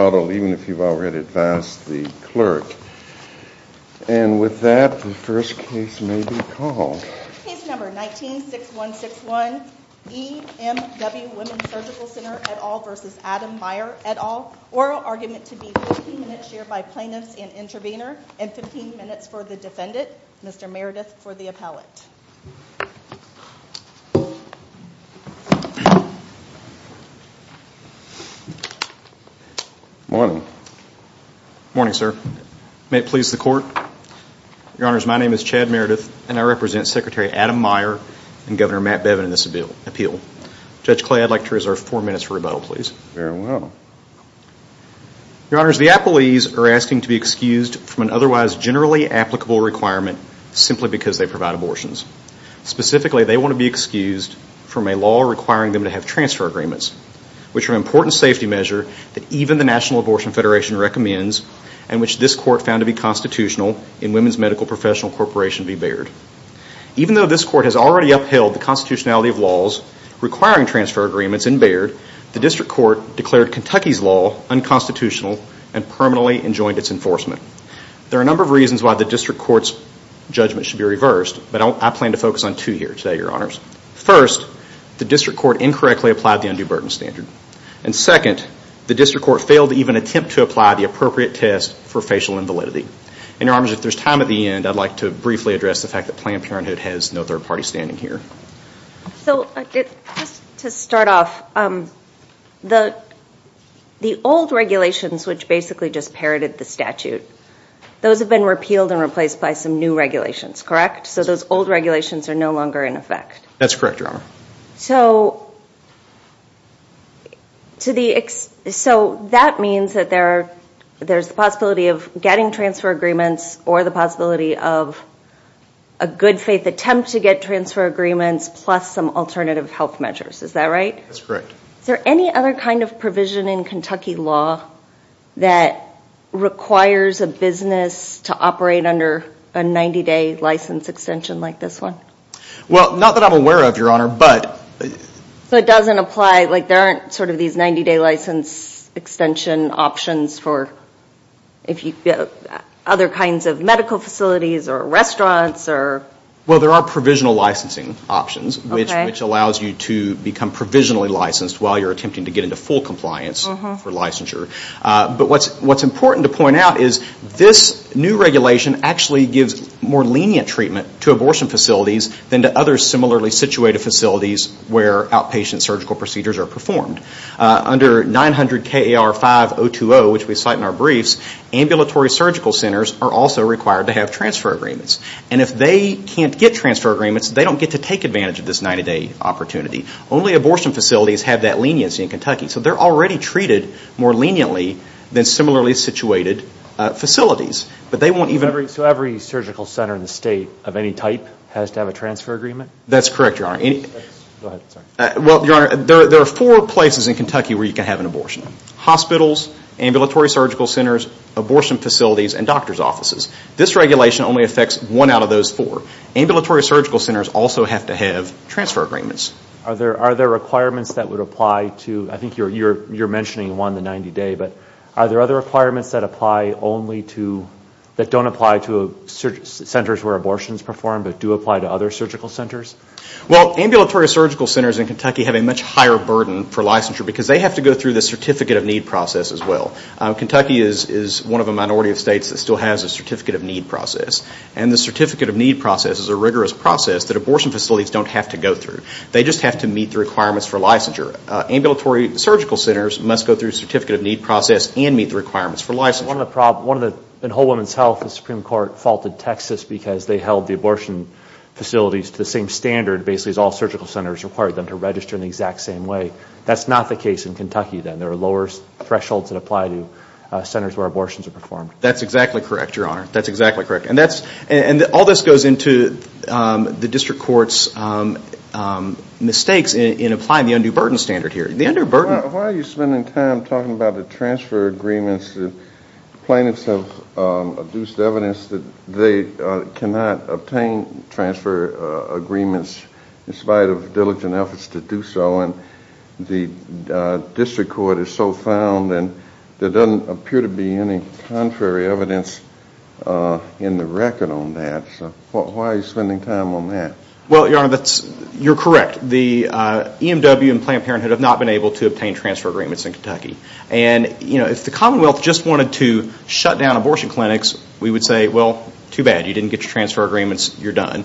et al. Oral argument to be 15 minutes shared by plaintiffs and intervener, and 15 minutes for the defendant, Mr. Meredith for the appellate. Good morning. Good morning sir. May it please the court. Your honors, my name is Chad Meredith and I represent Secretary Adam Meier and Governor Matt Bevin in this appeal. Judge Clay, I'd like to reserve four minutes for rebuttal please. Very well. Your honors, the appellees are asking to be excused from an otherwise generally applicable requirement simply because they provide abortions. Specifically, they want to be excused from a law requiring them to have transfer agreements, which are important safety measures that even the National Abortion Federation recommends and which this court found to be constitutional in Women's Medical Professional Corporation v. Baird. Even though this court has already upheld the constitutionality of laws requiring transfer agreements in Baird, the district court declared Kentucky's law unconstitutional and permanently enjoined its enforcement. There are a number of reasons why the district court's judgment should be reversed, but I plan to focus on two here today, your honors. First, the district court incorrectly applied the undue burden standard. And second, the district court failed to even attempt to apply the appropriate test for facial invalidity. And your honors, if there's time at the end, I'd like to briefly address the fact that Planned Parenthood has no third party standing here. So just to start off, the old regulations which basically just parroted the statute, those have been repealed and replaced by some new regulations, correct? So those old regulations are no longer in effect. That's correct, your honor. So that means that there's the possibility of getting transfer agreements or the possibility of a good faith attempt to get transfer agreements plus some alternative health measures, is that right? That's correct. Is there any other kind of provision in Kentucky law that requires a business to operate under a 90 day license extension like this one? Well, not that I'm aware of, your honor, but... So it doesn't apply, like there aren't sort of these 90 day license extension options for other kinds of medical facilities or restaurants or... Well, there are provisional licensing options which allows you to become provisionally licensed while you're attempting to get into full compliance for licensure. But what's important to point out is this new regulation actually gives more lenient treatment to abortion facilities than to other similarly situated facilities where outpatient surgical procedures are performed. Under 900KAR5020, which we cite in our briefs, ambulatory surgical centers are also required to have transfer agreements. And if they can't get transfer agreements, they don't get to take advantage of this 90 day opportunity. Only abortion facilities have that leniency in Kentucky. So they're already treated more leniently than similarly situated facilities. But they won't even... So every surgical center in the state of any type has to have a transfer agreement? That's correct, your honor. Go ahead, sorry. Well, your honor, there are four places in Kentucky where you can have an abortion. Hospitals, ambulatory surgical centers, abortion facilities, and doctor's offices. This regulation only affects one out of those four. Ambulatory surgical centers also have to have transfer agreements. Are there requirements that would apply to... I think you're mentioning one, the 90 day, but are there other requirements that apply only to... that don't apply to centers where abortions perform but do apply to other surgical centers? Well, ambulatory surgical centers in Kentucky have a much higher burden for licensure because they have to go through the Certificate of Need process as well. Kentucky is one of the minority of states that still has a Certificate of Need process. And the Certificate of Need process is a rigorous process that abortion facilities don't have to go through. They just have to meet the requirements for licensure. Ambulatory surgical centers must go through Certificate of Need process and meet the requirements for licensure. One of the problems, in Whole Woman's Health, the Supreme Court faulted Texas because they held the abortion facilities to the same standard basically as all surgical centers required them to register in the exact same way. That's not the case in Kentucky then. There are lower thresholds that apply to centers where abortions are performed. That's exactly correct, Your Honor. That's exactly correct. And that's... and all this goes into the District Court's mistakes in applying the undue burden standard here. The undue burden... Why are you spending time talking about the transfer agreements? Plaintiffs have produced evidence that they cannot obtain transfer agreements in spite of diligent efforts to do so. And the District Court is so found and there doesn't appear to be any contrary evidence in the record on that. So why are you spending time on that? Well, Your Honor, you're correct. The EMW and Planned Parenthood have not been able to obtain transfer agreements in Kentucky. And, you know, if the Commonwealth just wanted to shut down abortion clinics, we would say, well, too bad. You didn't get your transfer agreements. You're done.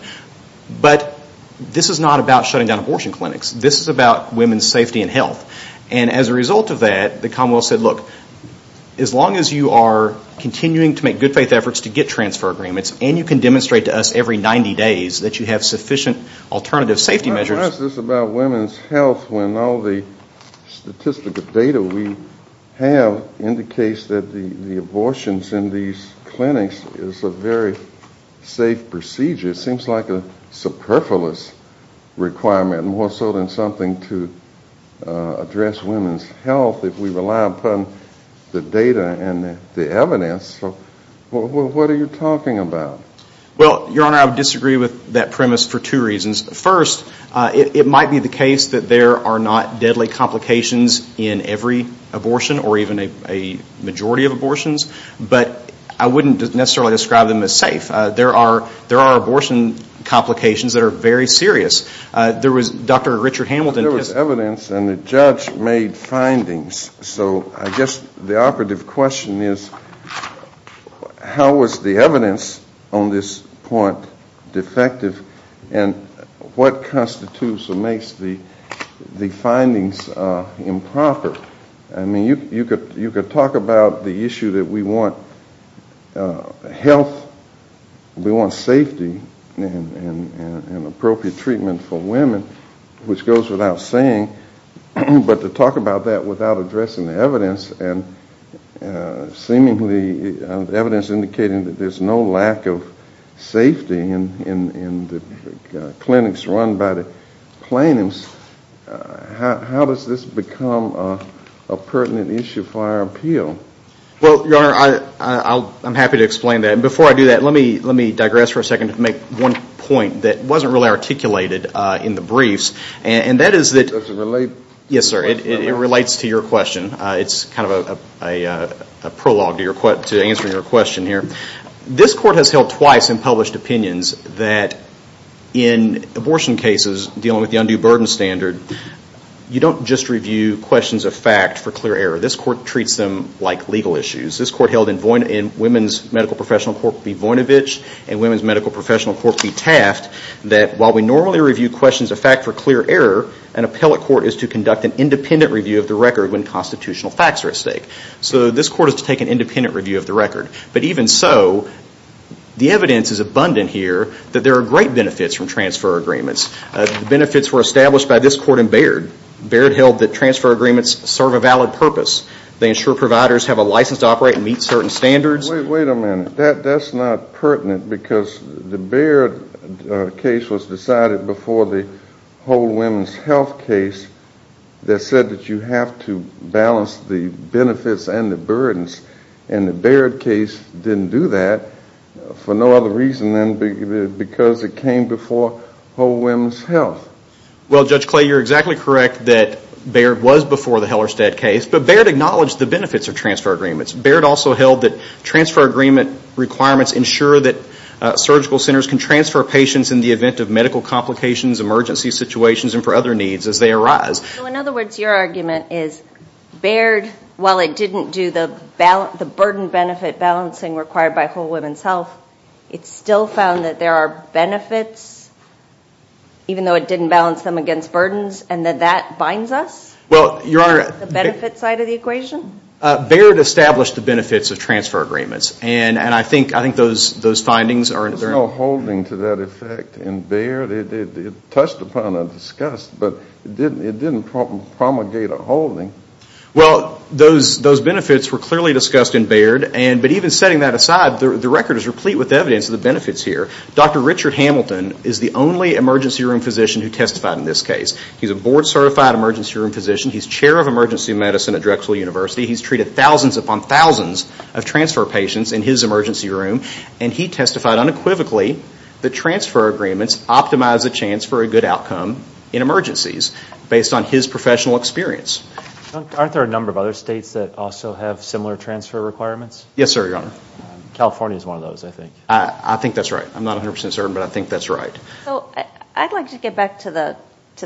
But this is not about shutting down abortion clinics. This is about women's safety and health. And as a result of that, the Commonwealth said, look, as long as you are continuing to make good faith efforts to get transfer agreements and you can demonstrate to us every 90 days that you have sufficient alternative safety measures... I ask this about women's health when all the seems like a superfluous requirement, more so than something to address women's health if we rely upon the data and the evidence. So what are you talking about? Well, Your Honor, I would disagree with that premise for two reasons. First, it might be the case that there are not deadly complications in every abortion or even a majority of abortions, but I wouldn't necessarily describe them as safe. There are abortion complications that are very serious. There was Dr. Richard Hamilton... There was evidence and the judge made findings. So I guess the operative question is how was the evidence on this point defective and what constitutes or makes the findings improper? I mean, you could talk about the issue that we want health, we want safety and appropriate treatment for women, which goes without saying, but to talk about that without addressing the evidence and seemingly evidence indicating that there is no lack of safety in the clinics run by the plaintiffs, how does this become a pertinent issue for our appeal? Well, Your Honor, I'm happy to explain that. Before I do that, let me digress for a second to make one point that wasn't really articulated in the briefs and that is that... Does it relate? Yes, sir. It relates to your question. It's kind of a prologue to answering your question here. This court has held twice in published opinions that in abortion cases dealing with the undue burden standard, you don't just review questions of fact for clear error. This court treats them like legal issues. This court held in Women's Medical Professional Court v. Voinovich and Women's Medical Professional Court v. Taft that while we normally review questions of fact for clear error, an appellate court is to conduct an independent review of the record when constitutional facts are at stake. So this court is to take an independent review of the record. But even so, the evidence is abundant here that there are great benefits from transfer agreements. Benefits were established by this court in Baird. Baird held that transfer agreements serve a valid purpose. They ensure providers have a license to operate and meet certain standards. Wait a minute. That's not pertinent because the Baird case was decided before the Whole Women's Health case that said that you have to balance the benefits and the burdens and the Baird case didn't do that for no other reason than because it came before Whole Women's Health. Well, Judge Clay, you're exactly correct that Baird was before the Hellerstedt case, but Baird acknowledged the benefits of transfer agreements. Baird also held that transfer agreement requirements ensure that surgical centers can transfer patients in the event of medical complications, emergency situations and for other needs as they arise. So in other words, your argument is Baird, while it didn't do the burden benefit balancing required by Whole Women's Health, it still found that there are benefits even though it didn't balance them against burdens and that that binds us? Well, Your Honor. The benefit side of the equation? Baird established the benefits of transfer agreements and I think those findings are in there. There's no holding to that effect in Baird. It touched upon and discussed, but it didn't promulgate a holding. Well, those benefits were clearly discussed in Baird, but even setting that aside, the record is replete with evidence of the benefits here. Dr. Richard Hamilton is the only emergency room physician who testified in this case. He's a board certified emergency room physician. He's chair of emergency medicine at Drexel University. He's treated thousands upon thousands of transfer patients in his emergency room and he testified unequivocally that transfer agreements optimize a chance for a good outcome in emergencies based on his professional experience. Aren't there a number of other states that also have similar transfer requirements? Yes, sir, Your Honor. California is one of those, I think. I think that's right. I'm not 100% certain, but I think that's right. I'd like to get back to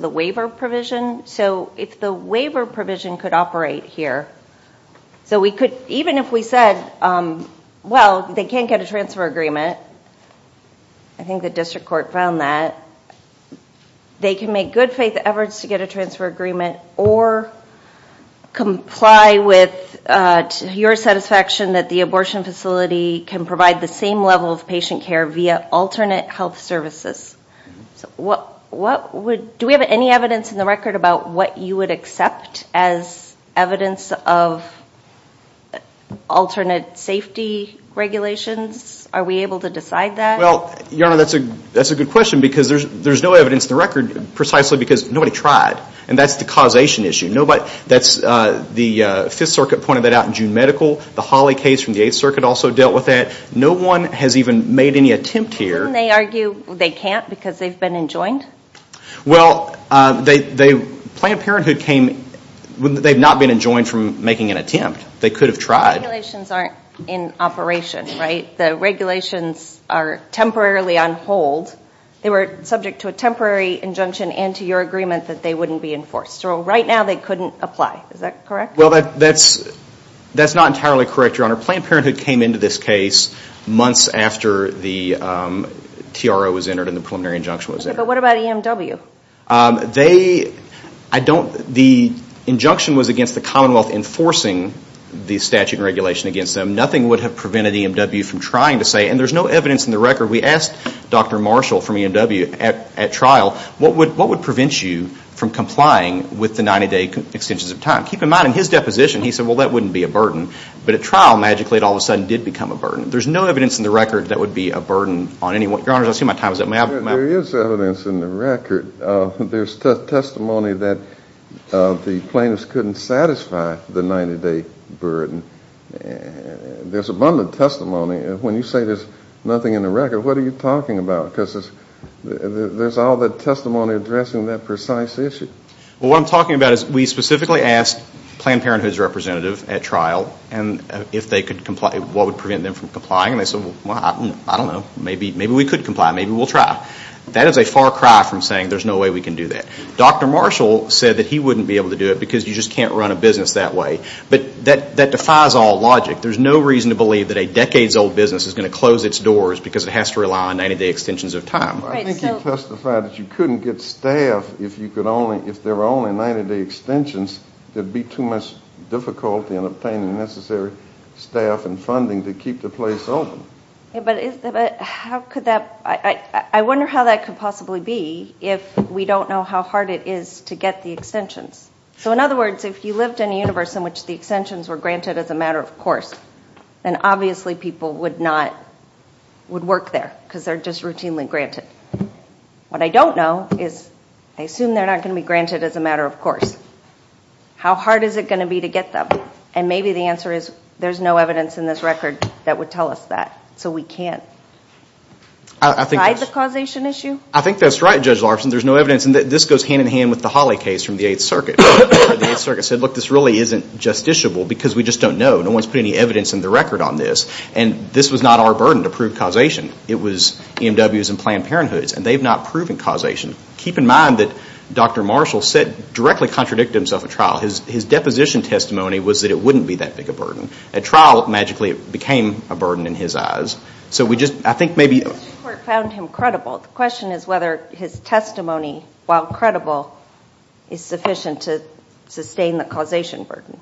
the waiver provision. If the waiver provision could operate here, so we could, even if we said, well, they can't get a transfer agreement, I think the district court found that, they can make good faith efforts to get a transfer agreement or comply with your satisfaction that the abortion facility can provide the same level of patient care via alternate health services. Do we have any evidence in the record about what you would accept as evidence of alternate safety regulations? Are we able to decide that? Well, Your Honor, that's a good question because there's no evidence in the record precisely because nobody tried and that's the causation issue. The Fifth Circuit pointed that out in June Medical. The Hawley case from the Eighth Circuit also dealt with that. No one has even made any attempt here. Didn't they argue they can't because they've been enjoined? Well, Planned Parenthood came, they've not been enjoined from making an attempt. They could have tried. Regulations aren't in operation, right? The regulations are temporarily on hold. They were subject to a temporary injunction and to your agreement that they wouldn't be enforced. Right now, they couldn't apply. Is that correct? Well, that's not entirely correct, Your Honor. Planned Parenthood came into this case months after the TRO was entered and the preliminary injunction was entered. But what about EMW? The injunction was against the Commonwealth enforcing the statute and regulation against them. Nothing would have prevented EMW from trying to say, and there's no evidence in the record. We asked Dr. Marshall from EMW at trial, what would prevent you from complying with the 90-day extensions of time? Keep in mind, in his deposition, he said, well, that wouldn't be a burden. But at trial, magically, it all of a sudden did become a burden. There's no evidence in the record that would be a burden on anyone. Your Honor, I see my time is up. May I have the microphone? There is evidence in the record. There's testimony that the plaintiffs couldn't satisfy the 90-day burden. There's abundant testimony. When you say there's nothing in the record, what are you talking about? Because there's all that testimony addressing that precise issue. Well, what I'm talking about is we specifically asked Planned Parenthood's representative at trial and if they could comply, what would prevent them from complying. And they said, well, I don't know. Maybe we could comply. Maybe we'll try. That is a far cry from saying there's no way we can do that. Dr. Marshall said that he wouldn't be able to do it because you just can't run a business that way. But that defies all logic. There's no reason to believe that a decades-old business is going to close its doors because it has to rely on 90-day extensions of time. I think you testified that you couldn't get staff if there were only 90-day extensions, there would be too much difficulty in obtaining the necessary staff and funding to keep the place open. I wonder how that could possibly be if we don't know how hard it is to get the extensions. In other words, if you lived in a universe in which the extensions were granted as a matter of course, then obviously people would not, would work there because they're just there. What I don't know is, I assume they're not going to be granted as a matter of course. How hard is it going to be to get them? And maybe the answer is there's no evidence in this record that would tell us that. So we can't decide the causation issue? I think that's right, Judge Larson. There's no evidence. And this goes hand-in-hand with the Hawley case from the 8th Circuit. The 8th Circuit said, look, this really isn't justiciable because we just don't know. No one's put any evidence in the record on this. And this was not our burden to prove causation. It was EMW's and Planned Parenthood's, and they've not proven causation. Keep in mind that Dr. Marshall said, directly contradicted himself at trial. His deposition testimony was that it wouldn't be that big a burden. At trial, magically, it became a burden in his eyes. So we just, I think maybe- The Supreme Court found him credible. The question is whether his testimony, while credible, is sufficient to sustain the causation burden.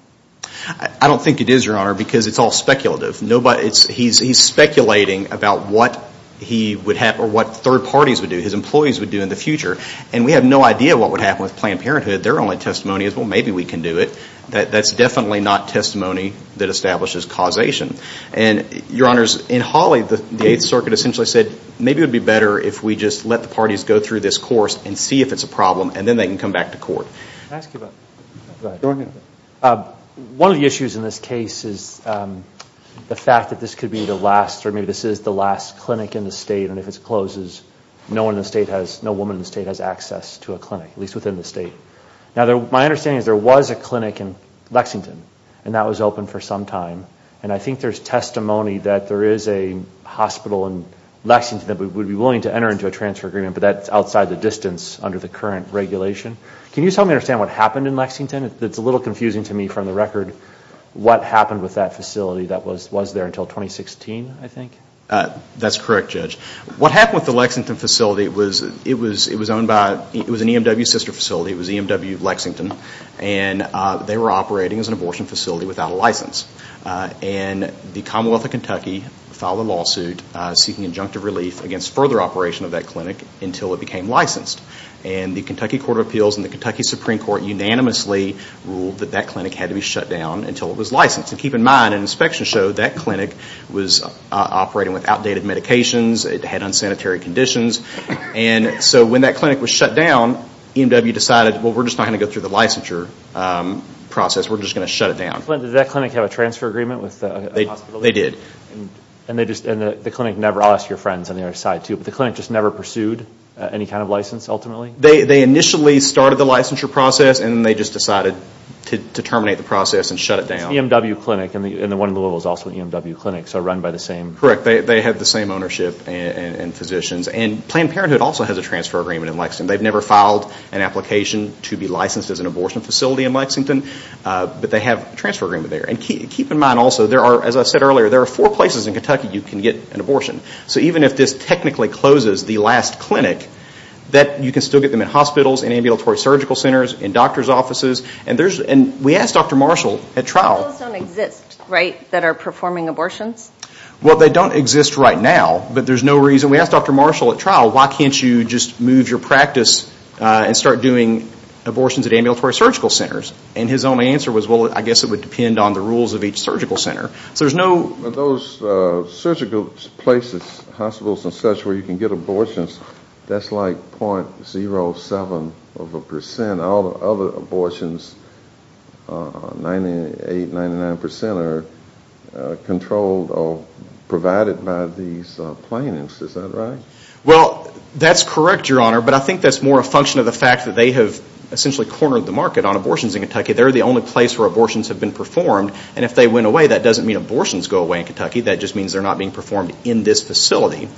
I don't think it is, Your Honor, because it's all speculative. He's speculating about what he would have, or what third parties would do, his employees would do in the future. And we have no idea what would happen with Planned Parenthood. Their only testimony is, well, maybe we can do it. That's definitely not testimony that establishes causation. And Your Honors, in Hawley, the 8th Circuit essentially said, maybe it would be better if we just let the parties go through this course and see if it's a problem, and then they can come back to court. Can I ask you about- Go ahead. One of the issues in this case is the fact that this could be the last, or maybe this is the last clinic in the state, and if it closes, no woman in the state has access to a clinic, at least within the state. Now, my understanding is there was a clinic in Lexington, and that was open for some time. And I think there's testimony that there is a hospital in Lexington that would be willing to enter into a transfer agreement, but that's outside the distance under the current regulation. Can you just help me understand what happened in Lexington? It's a little confusing to me from the record. What happened with that facility that was there until 2016, I think? That's correct, Judge. What happened with the Lexington facility, it was owned by, it was an EMW sister facility, it was EMW Lexington, and they were operating as an abortion facility without a license. And the Commonwealth of Kentucky filed a lawsuit seeking injunctive relief against further operation of that clinic until it became licensed. And the Kentucky Court of Appeals and the Kentucky Supreme Court unanimously ruled that that clinic had to be shut down until it was licensed. And keep in mind, an inspection showed that clinic was operating with outdated medications, it had unsanitary conditions. And so when that clinic was shut down, EMW decided, well, we're just not going to go through the licensure process, we're just going to shut it down. Did that clinic have a transfer agreement with the hospital? They did. And they just, and the clinic never, I'll ask your friends on the other side too, but the clinic just never pursued any kind of license ultimately? They initially started the licensure process and they just decided to terminate the process and shut it down. It's EMW Clinic, and the one in Louisville is also an EMW Clinic, so run by the same... Correct. They have the same ownership and physicians. And Planned Parenthood also has a transfer agreement in Lexington. They've never filed an application to be licensed as an abortion facility in Lexington, but they have a transfer agreement there. And keep in mind also, there are, as I said earlier, there are four places in Kentucky you can get an abortion. So even if this technically closes the last clinic, that, you can still get them in hospitals, in ambulatory surgical centers, in doctor's offices, and there's, and we asked Dr. Marshall at trial... Those don't exist, right, that are performing abortions? Well, they don't exist right now, but there's no reason, we asked Dr. Marshall at trial, why can't you just move your practice and start doing abortions at ambulatory surgical centers? And his only answer was, well, I guess it would depend on the rules of each surgical center. So there's no... But those surgical places, hospitals and such, where you can get abortions, that's like .07 of a percent. All the other abortions, 98, 99% are controlled or provided by these plaintiffs, is that right? Well, that's correct, Your Honor, but I think that's more a function of the fact that they have essentially cornered the market on abortions in Kentucky. They're the only place where abortions have been performed, and if they went away, that just means they're not being performed in this facility.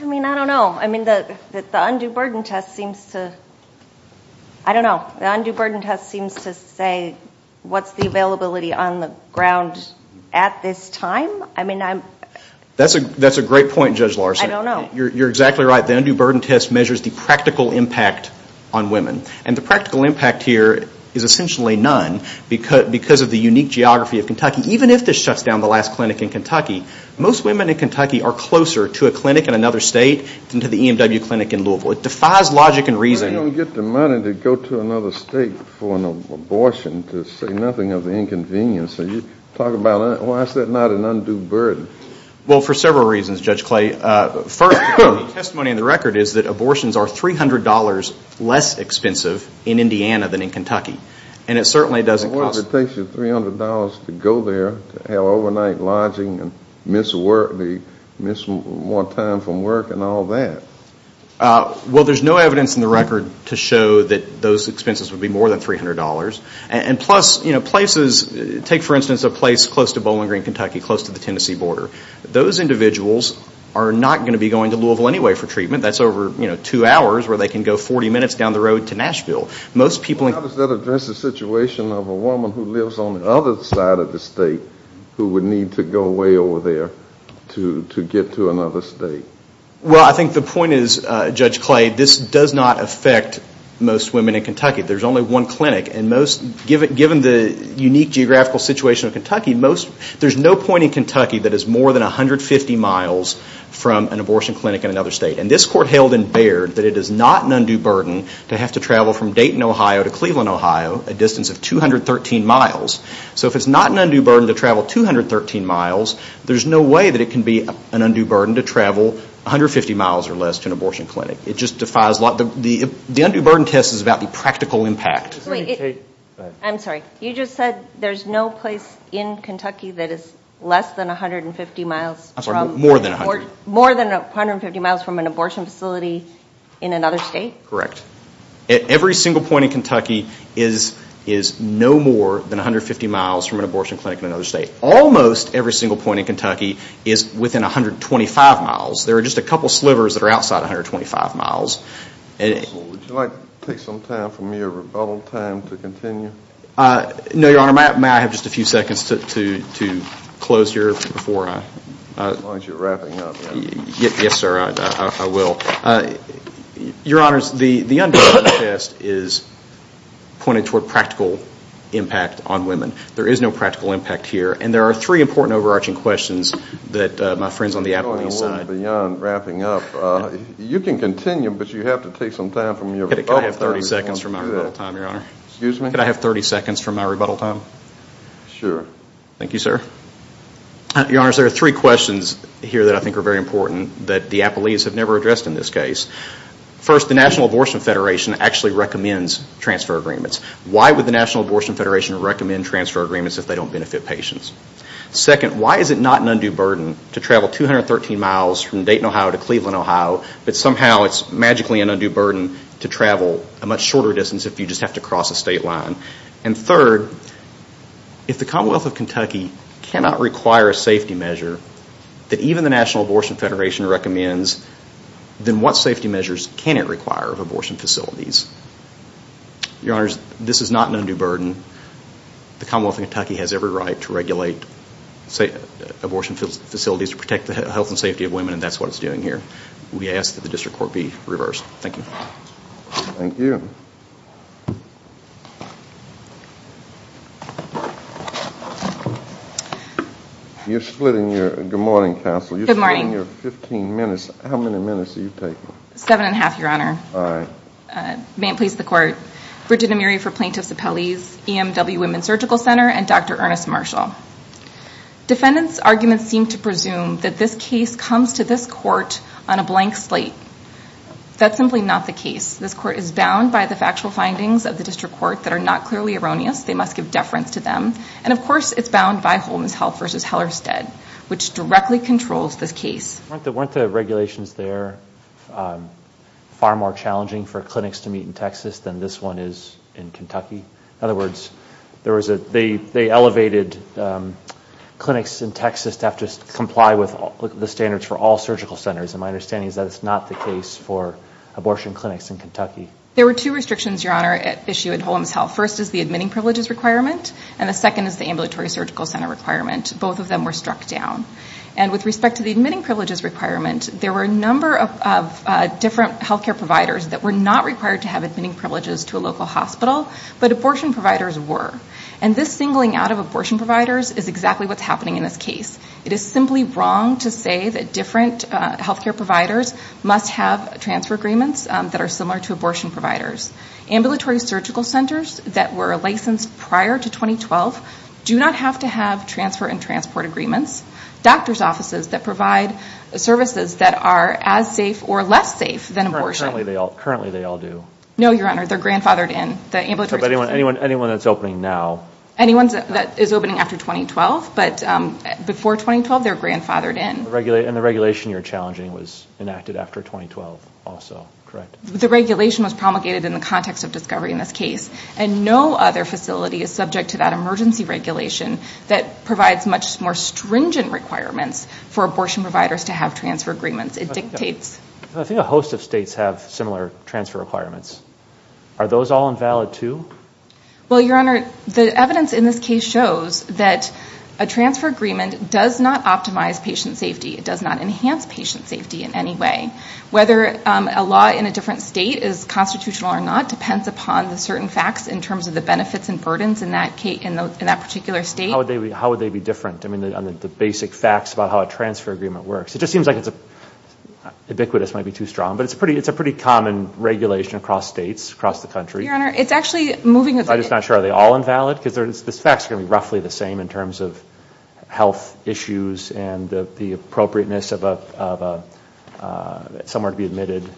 I mean, I don't know. I mean, the undue burden test seems to... I don't know. The undue burden test seems to say, what's the availability on the ground at this time? I mean, I'm... That's a great point, Judge Larson. I don't know. You're exactly right. The undue burden test measures the practical impact on women, and the practical impact here is essentially none, because of the unique geography of Kentucky. And even if this shuts down the last clinic in Kentucky, most women in Kentucky are closer to a clinic in another state than to the EMW clinic in Louisville. It defies logic and reason. You don't get the money to go to another state for an abortion to say nothing of the inconvenience. You talk about, why is that not an undue burden? Well, for several reasons, Judge Clay. First, the testimony in the record is that abortions are $300 less expensive in Indiana than in Kentucky, and it certainly doesn't cost... to have overnight lodging and miss work, miss more time from work and all that. Well, there's no evidence in the record to show that those expenses would be more than $300. And plus, you know, places, take for instance a place close to Bowling Green, Kentucky, close to the Tennessee border. Those individuals are not going to be going to Louisville anyway for treatment. That's over, you know, two hours where they can go 40 minutes down the road to Nashville. Most people in... How does that address the situation of a woman who lives on the other side of the state who would need to go way over there to get to another state? Well, I think the point is, Judge Clay, this does not affect most women in Kentucky. There's only one clinic, and most... given the unique geographical situation of Kentucky, there's no point in Kentucky that is more than 150 miles from an abortion clinic in another state. And this court held in Baird that it is not an undue burden to have to travel from Dayton, Ohio, to Cleveland, Ohio, a distance of 213 miles. So if it's not an undue burden to travel 213 miles, there's no way that it can be an undue burden to travel 150 miles or less to an abortion clinic. It just defies... the undue burden test is about the practical impact. Wait. I'm sorry. You just said there's no place in Kentucky that is less than 150 miles from... I'm sorry. More than 150. More than 150 miles from an abortion facility in another state? Correct. Correct. Every single point in Kentucky is no more than 150 miles from an abortion clinic in another state. Almost every single point in Kentucky is within 125 miles. There are just a couple slivers that are outside 125 miles. Would you like to take some time from your rebuttal time to continue? No, Your Honor. May I have just a few seconds to close here before I... As long as you're wrapping up, right? Yes, sir. I will. Your Honor, the undue burden test is pointed toward practical impact on women. There is no practical impact here, and there are three important overarching questions that my friends on the Appalachian side... You're going a little beyond wrapping up. You can continue, but you have to take some time from your rebuttal time to do that. Could I have 30 seconds from my rebuttal time, Your Honor? Excuse me? Could I have 30 seconds from my rebuttal time? Sure. Thank you, sir. Your Honor, there are three questions here that I think are very important that the Appalachians have never addressed in this case. First, the National Abortion Federation actually recommends transfer agreements. Why would the National Abortion Federation recommend transfer agreements if they don't benefit patients? Second, why is it not an undue burden to travel 213 miles from Dayton, Ohio to Cleveland, Ohio, but somehow it's magically an undue burden to travel a much shorter distance if you just have to cross a state line? And third, if the Commonwealth of Kentucky cannot require a safety measure that even the National Abortion Federation recommends, then what safety measures can it require of abortion facilities? Your Honor, this is not an undue burden. The Commonwealth of Kentucky has every right to regulate abortion facilities to protect the health and safety of women, and that's what it's doing here. We ask that the district court be reversed. Thank you. Thank you. You're splitting your... Good morning, counsel. Good morning. You're splitting your 15 minutes. How many minutes are you taking? Seven and a half, Your Honor. All right. May it please the Court. Bridget Amiri for Plaintiffs Appellees, EMW Women's Surgical Center, and Dr. Ernest Marshall. Defendants' arguments seem to presume that this case comes to this court on a blank slate. That's simply not the case. This court is bound by the factual findings of the district court that are not clearly erroneous. They must give deference to them. And, of course, it's bound by Holmes Health v. Hellerstedt, which directly controls this case. Weren't the regulations there far more challenging for clinics to meet in Texas than this one is in Kentucky? In other words, there was a... They elevated clinics in Texas to have to comply with the standards for all surgical centers. And my understanding is that it's not the case for abortion clinics in Kentucky. There were two restrictions, Your Honor, issued at Holmes Health. First is the admitting privileges requirement, and the second is the ambulatory surgical center requirement. Both of them were struck down. And with respect to the admitting privileges requirement, there were a number of different healthcare providers that were not required to have admitting privileges to a local hospital, but abortion providers were. And this singling out of abortion providers is exactly what's happening in this case. It is simply wrong to say that different healthcare providers must have transfer agreements that are similar to abortion providers. Ambulatory surgical centers that were licensed prior to 2012 do not have to have transfer and transport agreements. Doctors' offices that provide services that are as safe or less safe than abortion... Currently, they all do. No, Your Honor. They're grandfathered in. The ambulatory... But anyone that's opening now... Before 2012, they're grandfathered in. And the regulation you're challenging was enacted after 2012 also, correct? The regulation was promulgated in the context of discovery in this case. And no other facility is subject to that emergency regulation that provides much more stringent requirements for abortion providers to have transfer agreements. It dictates... I think a host of states have similar transfer requirements. Are those all invalid too? Well, Your Honor, the evidence in this case shows that a transfer agreement does not optimize patient safety. It does not enhance patient safety in any way. Whether a law in a different state is constitutional or not depends upon the certain facts in terms of the benefits and burdens in that particular state. How would they be different? I mean, the basic facts about how a transfer agreement works. It just seems like it's... Ubiquitous might be too strong, but it's a pretty common regulation across states, across the country. Your Honor, it's actually moving... I'm just not sure. Are they all invalid? Because this fact is going to be roughly the same in terms of health issues and the appropriateness of somewhere to be admitted.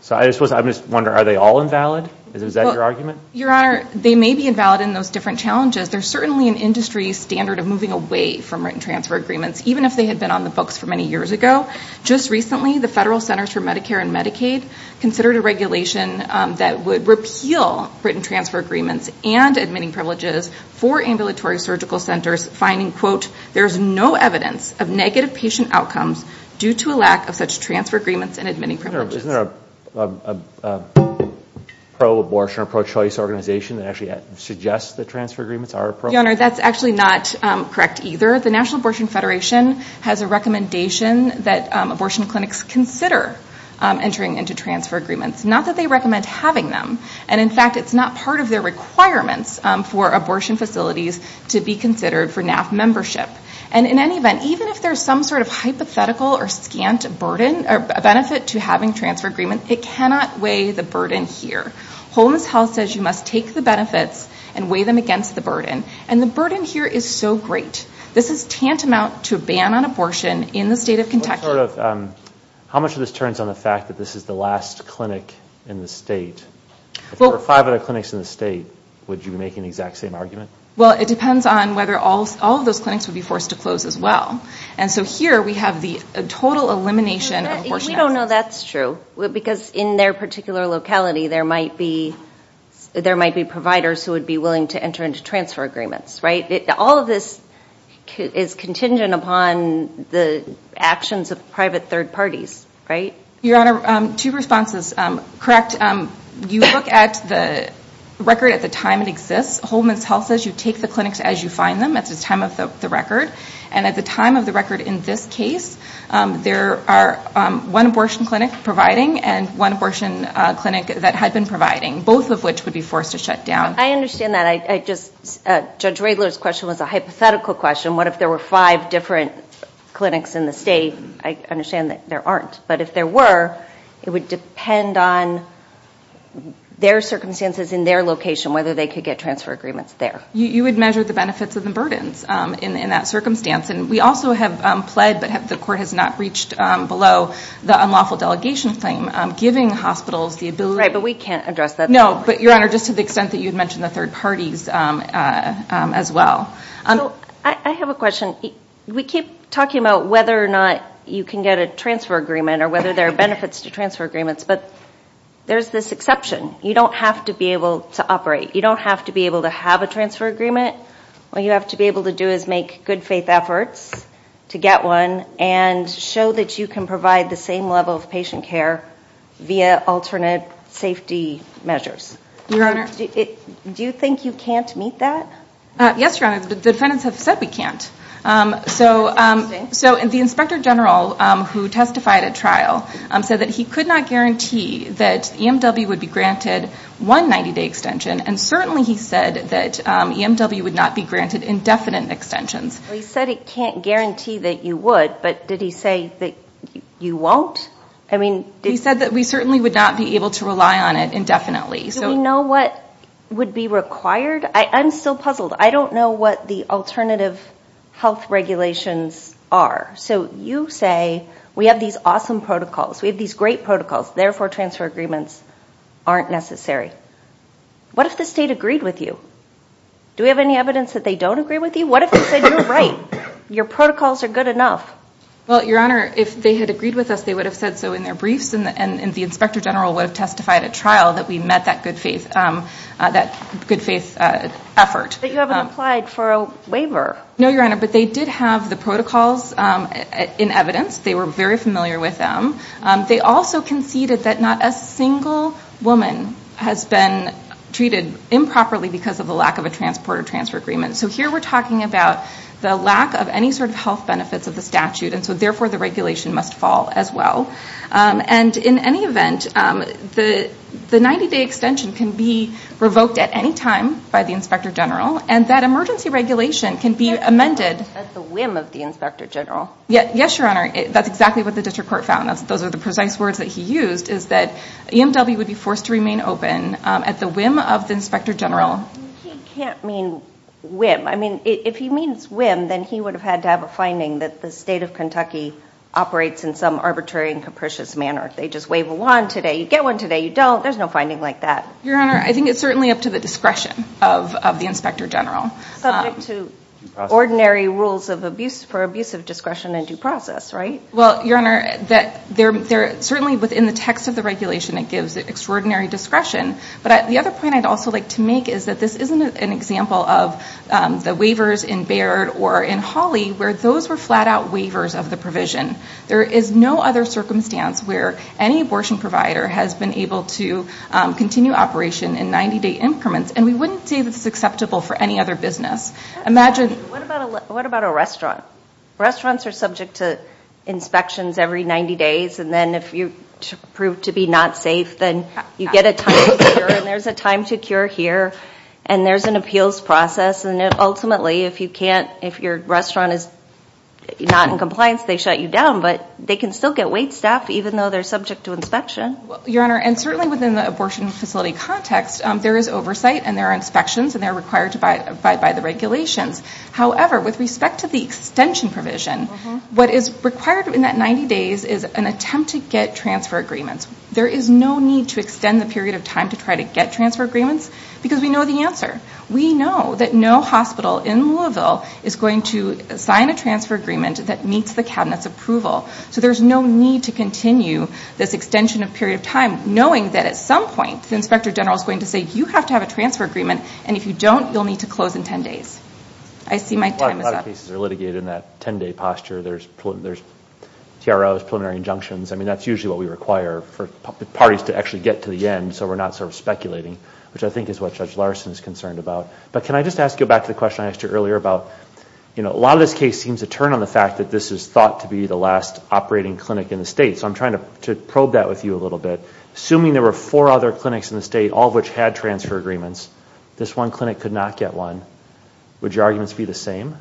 So I'm just wondering, are they all invalid? Is that your argument? Your Honor, they may be invalid in those different challenges. There's certainly an industry standard of moving away from written transfer agreements, even if they had been on the books for many years ago. Just recently, the Federal Centers for Medicare and Medicaid considered a regulation that would repeal written transfer agreements and admitting privileges for ambulatory surgical centers finding, quote, there's no evidence of negative patient outcomes due to a lack of such transfer agreements and admitting privileges. Your Honor, isn't there a pro-abortion or pro-choice organization that actually suggests that transfer agreements are a pro-choice? Your Honor, that's actually not correct either. The National Abortion Federation has a recommendation that abortion clinics consider entering into them. And in fact, it's not part of their requirements for abortion facilities to be considered for NAF membership. And in any event, even if there's some sort of hypothetical or scant burden or benefit to having transfer agreements, it cannot weigh the burden here. Homeless Health says you must take the benefits and weigh them against the burden. And the burden here is so great. How much of this turns on the fact that this is the last clinic in the state? If there were five other clinics in the state, would you be making the exact same argument? Well, it depends on whether all of those clinics would be forced to close as well. And so here, we have the total elimination of abortion. We don't know that's true. Because in their particular locality, there might be providers who would be willing to enter into transfer agreements, right? All of this is contingent upon the actions of private third parties, right? Your Honor, two responses. Correct, you look at the record at the time it exists. Homeless Health says you take the clinics as you find them at the time of the record. And at the time of the record in this case, there are one abortion clinic providing and one abortion clinic that had been providing, both of which would be forced to shut down. I understand that. Judge Radler's question was a hypothetical question. What if there were five different clinics in the state? I understand that there aren't. But if there were, it would depend on their circumstances in their location, whether they could get transfer agreements there. You would measure the benefits and the burdens in that circumstance. And we also have pled, but the court has not reached below, the unlawful delegation claim, giving hospitals the ability- Right, but we can't address that. No, but Your Honor, just to the extent that you had mentioned the third parties as well. I have a question. We keep talking about whether or not you can get a transfer agreement or whether there are benefits to transfer agreements, but there's this exception. You don't have to be able to operate. You don't have to be able to have a transfer agreement. All you have to be able to do is make good faith efforts to get one and show that you can provide the same level of patient care via alternate safety measures. Your Honor? Do you think you can't meet that? Yes, Your Honor, the defendants have said we can't. So the inspector general who testified at trial said that he could not guarantee that EMW would be granted one 90-day extension. And certainly he said that EMW would not be granted indefinite extensions. He said it can't guarantee that you would, but did he say that you won't? He said that we certainly would not be able to rely on it indefinitely. Do we know what would be required? I'm still puzzled. I don't know what the alternative health regulations are. So you say we have these awesome protocols, we have these great protocols, therefore transfer agreements aren't necessary. What if the state agreed with you? Do we have any evidence that they don't agree with you? What if they said, you're right, your protocols are good enough? Well, Your Honor, if they had agreed with us, they would have said so in their briefs, and the inspector general would have testified at trial that we met that good faith effort. But you haven't applied for a waiver. No, Your Honor, but they did have the protocols in evidence. They were very familiar with them. They also conceded that not a single woman has been treated improperly because of the lack of a transport or transfer agreement. So here we're talking about the lack of any sort of health benefits of the statute, and so therefore the regulation must fall as well. And in any event, the 90-day extension can be revoked at any time by the inspector general, and that emergency regulation can be amended. At the whim of the inspector general. Yes, Your Honor, that's exactly what the district court found. Those are the precise words that he used is that EMW would be forced to remain open at the whim of the inspector general. He can't mean whim. I mean, if he means whim, then he would have had to have a finding that the state of Kentucky operates in some arbitrary and capricious manner. If they just wave a wand today, you get one today, you don't. There's no finding like that. Your Honor, I think it's certainly up to the discretion of the inspector general. Subject to ordinary rules for abuse of discretion and due process, right? Well, Your Honor, certainly within the text of the regulation, it gives extraordinary discretion. But the other point I'd also like to make is that this isn't an example of the waivers in Baird or in Hawley where those were flat-out waivers of the provision. There is no other circumstance where any abortion provider has been able to continue operation in 90-day increments. And we wouldn't say this is acceptable for any other business. Imagine. What about a restaurant? Restaurants are subject to inspections every 90 days. And then if you prove to be not safe, then you get a time to cure. And there's a time to cure here. And there's an appeals process. And ultimately, if you can't, if your restaurant is not in compliance, they shut you down. But they can still get wait staff even though they're subject to inspection. Your Honor, and certainly within the abortion facility context, there is oversight and there are inspections, and they're required by the regulations. However, with respect to the extension provision, what is required in that 90 days is an attempt to get transfer agreements. There is no need to extend the period of time to try to get transfer agreements because we know the answer. We know that no hospital in Louisville is going to sign a transfer agreement that meets the Cabinet's approval. So there's no need to continue this extension of period of time knowing that at some point the Inspector General is going to say, you have to have a transfer agreement. And if you don't, you'll need to close in 10 days. I see my time is up. A lot of cases are litigated in that 10-day posture. There's TROs, preliminary injunctions. I mean, that's usually what we require for parties to actually get to the end so we're not sort of speculating, which I think is what Judge Larson is concerned about. But can I just ask you back to the question I asked you earlier about, you know, a lot of this case seems to turn on the fact that this is thought to be the last operating clinic in the state. So I'm trying to probe that with you a little bit. Assuming there were four other clinics in the state, all of which had transfer agreements, this one clinic could not get one. Would your arguments be the same?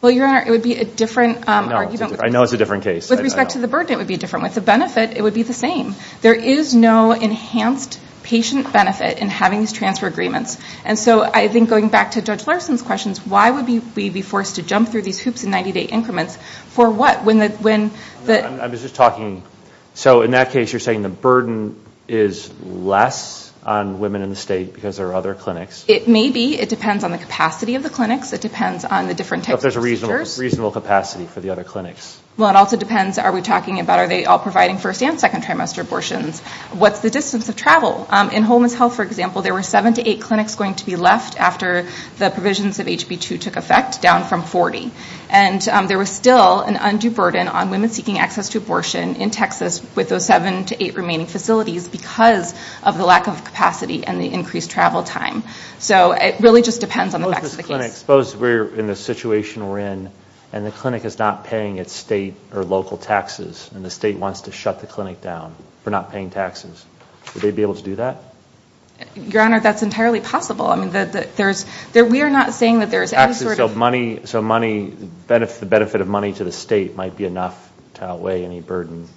Well, Your Honor, it would be a different argument. I know it's a different case. With respect to the burden, it would be different. With the benefit, it would be the same. There is no enhanced patient benefit in having these transfer agreements. And so I think going back to Judge Larson's questions, why would we be forced to jump through these hoops in 90-day increments for what? I'm just talking. So in that case, you're saying the burden is less on women in the state because there are other clinics? It may be. It depends on the capacity of the clinics. It depends on the different types of visitors. Reasonable capacity for the other clinics. Well, it also depends. Are we talking about are they all providing first and second trimester abortions? What's the distance of travel? In homeless health, for example, there were seven to eight clinics going to be left after the provisions of HB2 took effect, down from 40. And there was still an undue burden on women seeking access to abortion in Texas with those seven to eight remaining facilities because of the lack of capacity and the increased travel time. So it really just depends on the facts of the case. Suppose we're in the situation we're in and the clinic is not paying its state or local taxes and the state wants to shut the clinic down for not paying taxes. Would they be able to do that? Your Honor, that's entirely possible. I mean, we are not saying that there is any sort of. So the benefit of money to the state might be enough to outweigh any burden.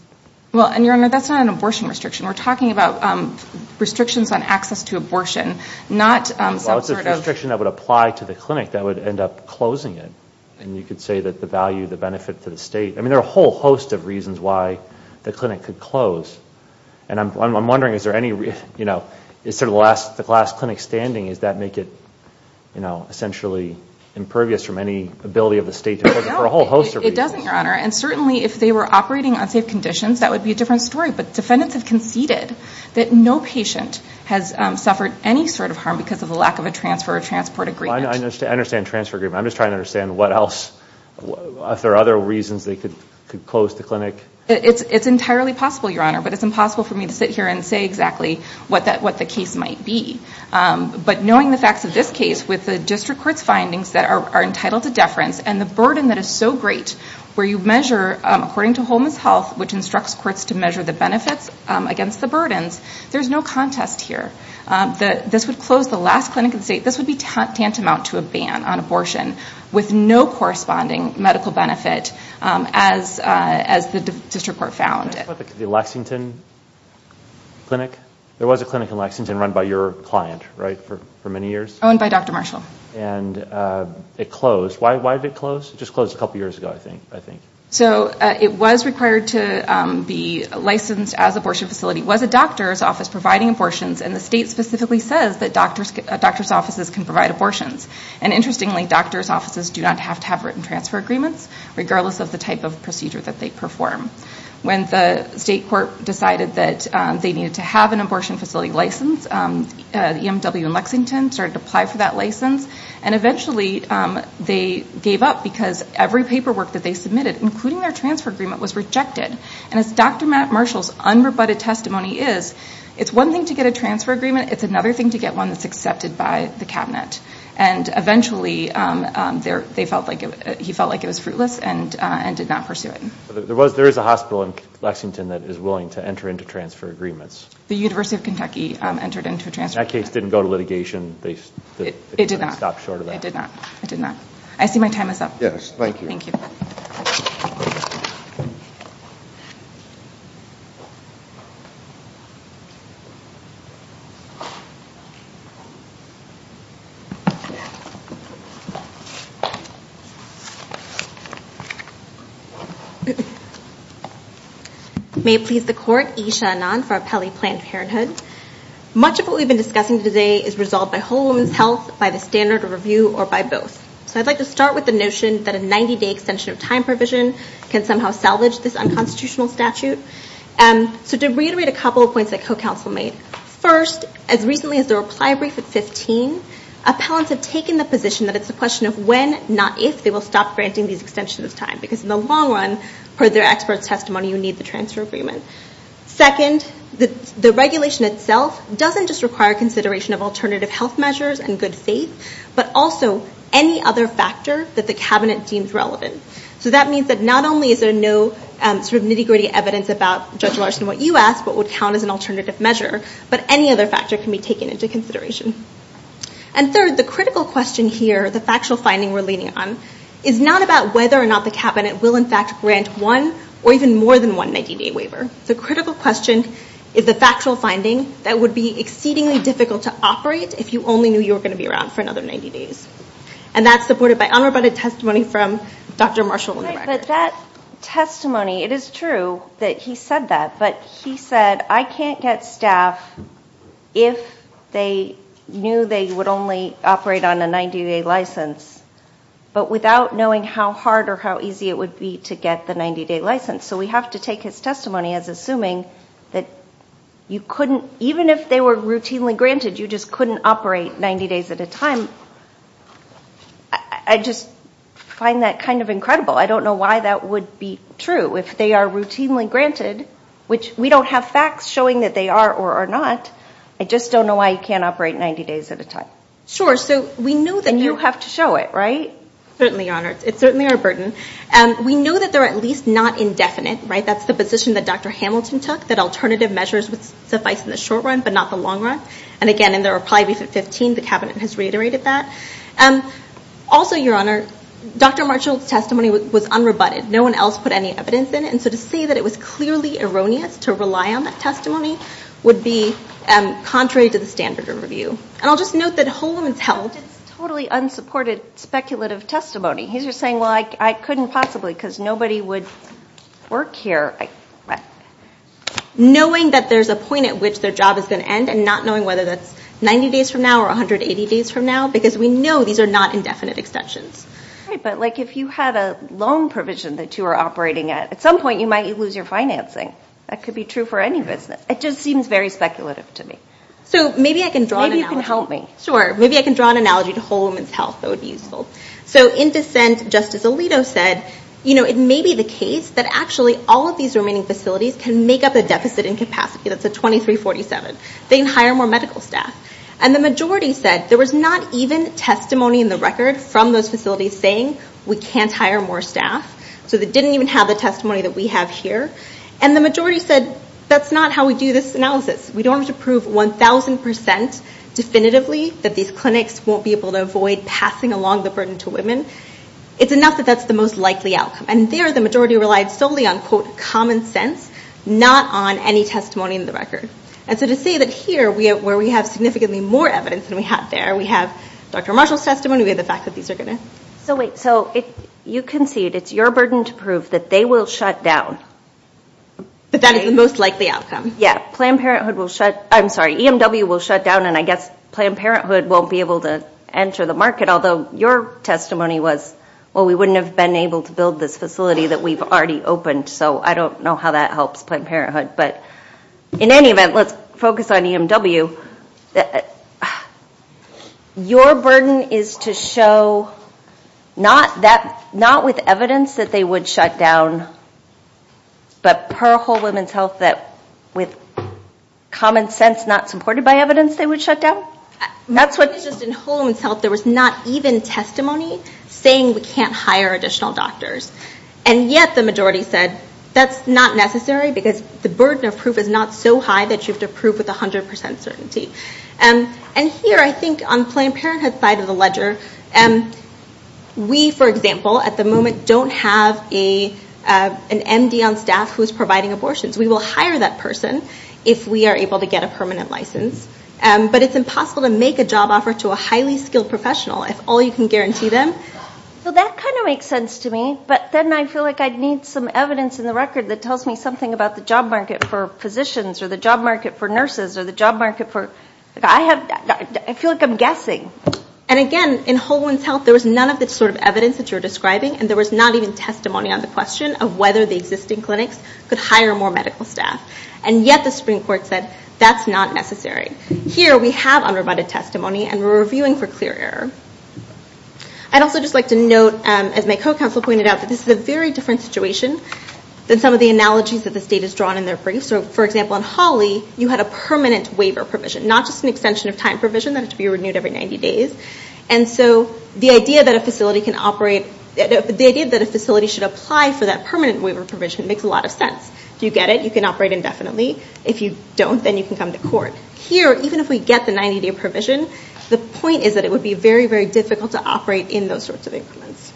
Well, and Your Honor, that's not an abortion restriction. We're talking about restrictions on access to abortion, not some sort of. Well, it's a restriction that would apply to the clinic that would end up closing it. And you could say that the value, the benefit to the state. I mean, there are a whole host of reasons why the clinic could close. And I'm wondering, is there any, you know, is there the last clinic standing? Does that make it, you know, essentially impervious from any ability of the state? No, it doesn't, Your Honor. And certainly, if they were operating on safe conditions, that would be a different story. But defendants have conceded that no patient has suffered any sort of harm because of the lack of a transfer or transport agreement. I understand transfer agreement. I'm just trying to understand what else. Are there other reasons they could close the clinic? It's entirely possible, Your Honor. But it's impossible for me to sit here and say exactly what the case might be. But knowing the facts of this case with the district court's findings that are entitled to deference and the burden that is so great where you measure, according to Holman's Health, which instructs courts to measure the benefits against the burdens, there's no contest here. This would close the last clinic in the state. This would be tantamount to a ban on abortion with no corresponding medical benefit as the district court found it. The Lexington Clinic, there was a clinic in Lexington run by your client, right, for many years? Owned by Dr. Marshall. And it closed. Why did it close? It just closed a couple years ago, I think. So it was required to be licensed as an abortion facility. It was a doctor's office providing abortions. And the state specifically says that doctor's offices can provide abortions. And interestingly, doctor's offices do not have to have written transfer agreements, regardless of the type of procedure that they perform. When the state court decided that they needed to have an abortion facility license, EMW in Lexington started to apply for that license. And eventually, they gave up because every paperwork that they submitted, including their transfer agreement, was rejected. And as Dr. Marshall's unrebutted testimony is, it's one thing to get a transfer agreement, it's another thing to get one that's accepted by the cabinet. And eventually, he felt like it was fruitless and did not pursue it. There is a hospital in Lexington that is willing to enter into transfer agreements? The University of Kentucky entered into a transfer agreement. That case didn't go to litigation? They didn't stop short of that? It did not. I see my time is up. Yes, thank you. Thank you. May it please the court, Isha Anand for Appellee Planned Parenthood. Much of what we've been discussing today is resolved by Whole Woman's Health, by the standard of review, or by both. So I'd like to start with the notion that a 90-day extension of time provision can somehow salvage this unconstitutional statute. So to reiterate a couple of points that co-counsel made. First, as recently as the reply brief at 15, appellants have taken the position that it's a question of when, not if, they will stop granting these extensions of time. Because in the long run, per their expert's testimony, you need the transfer agreement. Second, the regulation itself doesn't just require consideration of alternative health measures and good faith, but also any other factor that the cabinet deems relevant. So that means that not only is there no sort of nitty-gritty evidence about Judge Larson, what you asked, what would count as an alternative measure, but any other factor can be taken into consideration. And third, the critical question here, the factual finding we're leaning on, is not about whether or not the cabinet will in fact grant one or even more than one 90-day waiver. The critical question is the factual finding that would be exceedingly difficult to operate if you only knew you were going to be around for another 90 days. And that's supported by unroboted testimony from Dr. Marshall on the record. But that testimony, it is true that he said that. But he said, I can't get staff if they knew they would only operate on a 90-day license, but without knowing how hard or how easy it would be to get the 90-day license. So we have to take his testimony as assuming that you couldn't, even if they were routinely granted, you just couldn't operate 90 days at a time. I just find that kind of incredible. I don't know why that would be true. If they are routinely granted, which we don't have facts showing that they are or are not, I just don't know why you can't operate 90 days at a time. And you have to show it, right? Certainly, Your Honor. It's certainly our burden. We know that they're at least not indefinite, right? That's the position that Dr. Hamilton took, that alternative measures would suffice in the short run, but not the long run. And again, in the reply brief at 15, the cabinet has reiterated that. Also, Your Honor, Dr. Marshall's testimony was unroboted. No one else put any evidence in it. And so to say that it was clearly erroneous to rely on that testimony would be contrary to the standard of review. And I'll just note that Holman's held. It's totally unsupported speculative testimony. He's just saying, well, I couldn't possibly, because nobody would work here. Knowing that there's a point at which their job is going to end and not knowing whether that's 90 days from now or 180 days from now, because we know these are not indefinite extensions. Right, but like if you had a loan provision that you were operating at, at some point you might lose your financing. That could be true for any business. It just seems very speculative to me. So maybe I can draw an analogy. Maybe you can help me. Sure. Maybe I can draw an analogy to Holman's health that would be useful. So in dissent, Justice Alito said, you know, it may be the case that actually all of these remaining facilities can make up a deficit in capacity. That's a 2347. They can hire more medical staff. And the majority said there was not even testimony in the record from those facilities saying we can't hire more staff. So they didn't even have the testimony that we have here. And the majority said that's not how we do this analysis. We don't have to prove 1000% definitively that these clinics won't be able to avoid passing along the burden to women. It's enough that that's the most likely outcome. And there the majority relied solely on quote common sense, not on any testimony in the record. And so to say that here where we have significantly more evidence than we had there, we have Dr. Marshall's testimony, we have the fact that these are going to. So wait, so you concede it's your burden to prove that they will shut down. But that is the most likely outcome. Yeah, Planned Parenthood will shut, I'm sorry, EMW will shut down. And I guess Planned Parenthood won't be able to enter the market. Although your testimony was, well, we wouldn't have been able to build this facility that we've already opened, so I don't know how that helps Planned Parenthood. But in any event, let's focus on EMW. Your burden is to show not with evidence that they would shut down, but per Whole Woman's Health that with common sense not supported by evidence they would shut down. That's what. Just in Whole Woman's Health there was not even testimony saying we can't hire additional doctors. And yet the majority said that's not necessary because the burden of proof is not so high that you have to prove with 100% certainty. And here I think on Planned Parenthood side of the ledger, we, for example, at the moment don't have an MD on staff who is providing abortions. We will hire that person if we are able to get a permanent license. But it's impossible to make a job offer to a highly skilled professional if all you can guarantee them. Well, that kind of makes sense to me. But then I feel like I'd need some evidence in the record that tells me something about the job market for physicians or the job market for nurses or the job market for, I have, I feel like I'm guessing. And again, in Whole Woman's Health there was none of the sort of evidence that you're describing and there was not even testimony on the question of whether the existing clinics could hire more medical staff. And yet the Supreme Court said that's not necessary. Here we have unrebutted testimony and we're reviewing for clear error. I'd also just like to note, as my co-counsel pointed out, that this is a very different situation than some of the analogies that the state has drawn in their briefs. So, for example, in Hawley you had a permanent waiver provision, not just an extension of time provision that had to be renewed every 90 days. And so the idea that a facility can operate, the idea that a facility should apply for that permanent waiver provision makes a lot of sense. If you get it, you can operate indefinitely. If you don't, then you can come to court. Here, even if we get the 90-day provision, the point is that it would be very, very difficult to operate in those sorts of increments.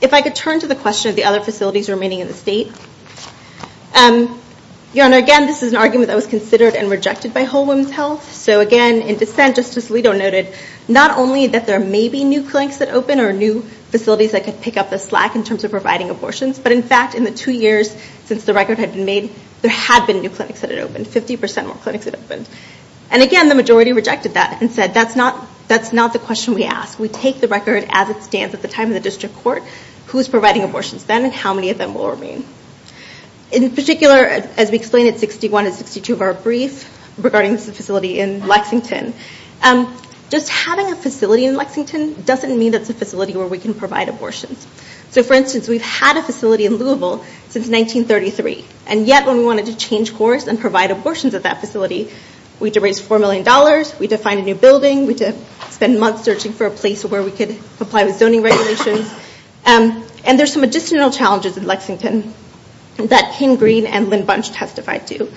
If I could turn to the question of the other facilities remaining in the state. Your Honor, again, this is an argument that was considered and rejected by Whole Woman's Health. So again, in dissent, Justice Alito noted not only that there may be new clinics that open or new facilities that could pick up the slack in terms of providing abortions, but in fact in the two years since the record had been made, there had been new clinics that had opened, 50% more clinics had opened. And again, the majority rejected that and said that's not the question we ask. We take the record as it stands at the time of the district court, who's providing abortions then and how many of them will remain. In particular, as we explained at 61 and 62 of our briefs regarding this facility in Lexington, just having a facility in Lexington doesn't mean it's a facility where we can provide abortions. So for instance, we've had a facility in Louisville since 1933. And yet when we wanted to change course and provide abortions at that facility, we had to raise $4 million, we had to find a new building, we had to spend months searching for a place where we could apply with zoning regulations. And there's some additional challenges in Lexington that Kim Green and Lynn Bunch testified to.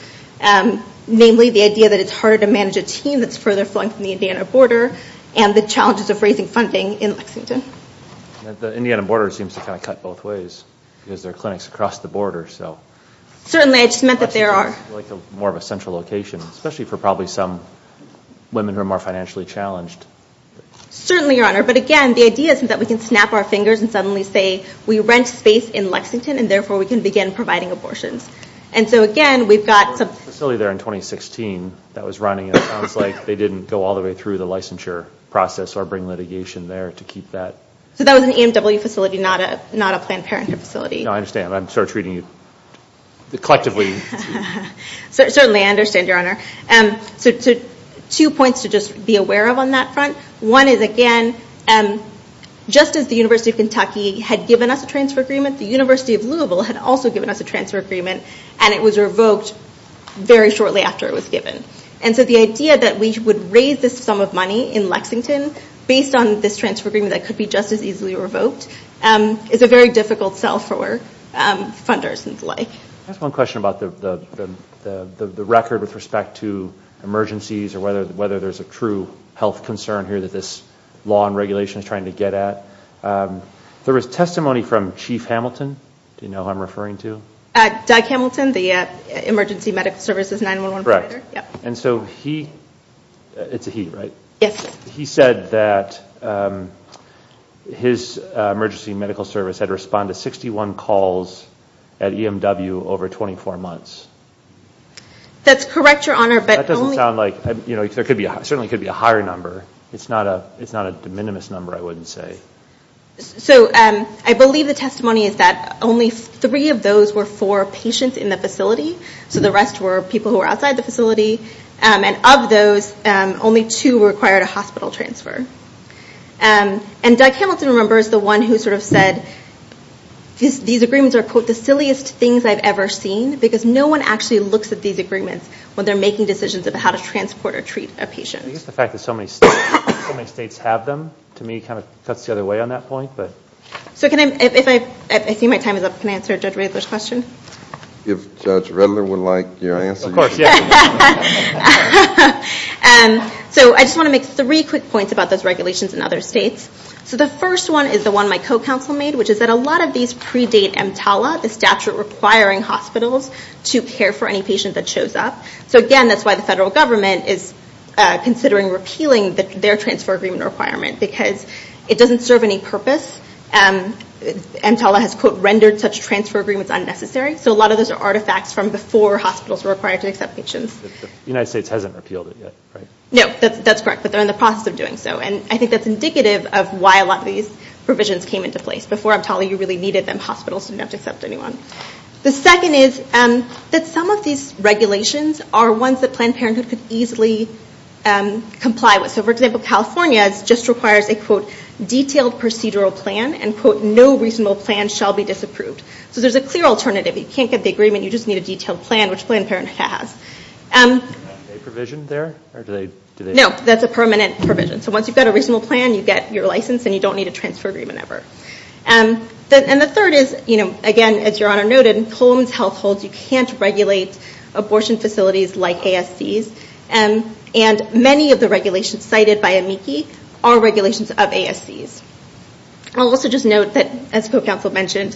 Namely, the idea that it's harder to manage a team that's further flung from the Indiana border and the challenges of raising funding in Lexington. The Indiana border seems to kind of cut both ways because there are clinics across the border, so. Certainly, I just meant that there are. Like more of a central location, especially for probably some women who are more financially challenged. Certainly, your honor. But again, the idea is that we can snap our fingers and suddenly say, we rent space in Lexington and therefore we can begin providing abortions. And so again, we've got some. Facility there in 2016 that was running, and it sounds like they didn't go all the way through the licensure process or bring litigation there to keep that. So that was an EMW facility, not a Planned Parenthood facility. No, I understand. I'm sort of treating you collectively. Certainly, I understand, your honor. So two points to just be aware of on that front. One is, again, just as the University of Kentucky had given us a transfer agreement, the University of Louisville had also given us a transfer agreement, and it was revoked very shortly after it was given. And so the idea that we would raise this sum of money in Lexington based on this transfer agreement that could be just as easily revoked is a very difficult sell for funders and the like. I have one question about the record with respect to emergencies or whether there's a true health concern here that this law and regulation is trying to get at. There was testimony from Chief Hamilton. Do you know who I'm referring to? Doug Hamilton, the Emergency Medical Services 9-1-1 provider? Correct. And so he, it's a he, right? Yes. He said that his emergency medical service had responded to 61 calls at EMW over 24 months. That's correct, your honor, but only- That doesn't sound like, you know, there could be, certainly could be a higher number. It's not a, it's not a de minimis number, I wouldn't say. So I believe the testimony is that only three of those were for patients in the facility. So the rest were people who were outside the facility. And of those, only two required a hospital transfer. And Doug Hamilton, remember, is the one who sort of said, these agreements are, quote, the silliest things I've ever seen because no one actually looks at these agreements when they're making decisions about how to transport or treat a patient. I guess the fact that so many states have them, to me, kind of cuts the other way on that point, but. So can I, if I, I see my time is up, can I answer Judge Redler's question? If Judge Redler would like your answer. Of course, yeah. So I just want to make three quick points about those regulations in other states. So the first one is the one my co-counsel made, which is that a lot of these predate EMTALA, the statute requiring hospitals to care for any patient that shows up. So again, that's why the federal government is considering repealing their transfer agreement requirement because it doesn't serve any purpose. EMTALA has, quote, rendered such transfer agreements unnecessary. So a lot of those are artifacts from before hospitals were required to accept patients. The United States hasn't repealed it yet, right? No, that's correct, but they're in the process of doing so. And I think that's indicative of why a lot of these provisions came into place. Before EMTALA, you really needed them, hospitals didn't have to accept anyone. The second is that some of these regulations are ones that Planned Parenthood could easily comply with. So, for example, California just requires a, quote, detailed procedural plan, and, quote, no reasonable plan shall be disapproved. So there's a clear alternative. You can't get the agreement. You just need a detailed plan, which Planned Parenthood has. Is that a provision there, or do they? No, that's a permanent provision. So once you've got a reasonable plan, you get your license, and you don't need a transfer agreement ever. And the third is, you know, again, as Your Honor noted, in Columns Health Holds, you can't regulate abortion facilities like ASCs. And many of the regulations cited by AMICI are regulations of ASCs. I'll also just note that, as Pro Counsel mentioned,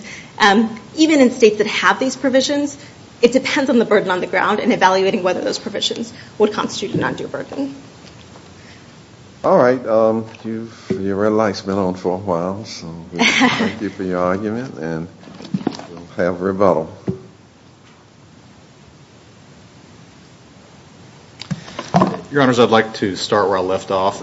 even in states that have these provisions, it depends on the burden on the ground, and evaluating whether those provisions would constitute a non-due burden. All right, your red light's been on for a while, so thank you for your argument, and have a rebuttal. Your Honors, I'd like to start where I left off.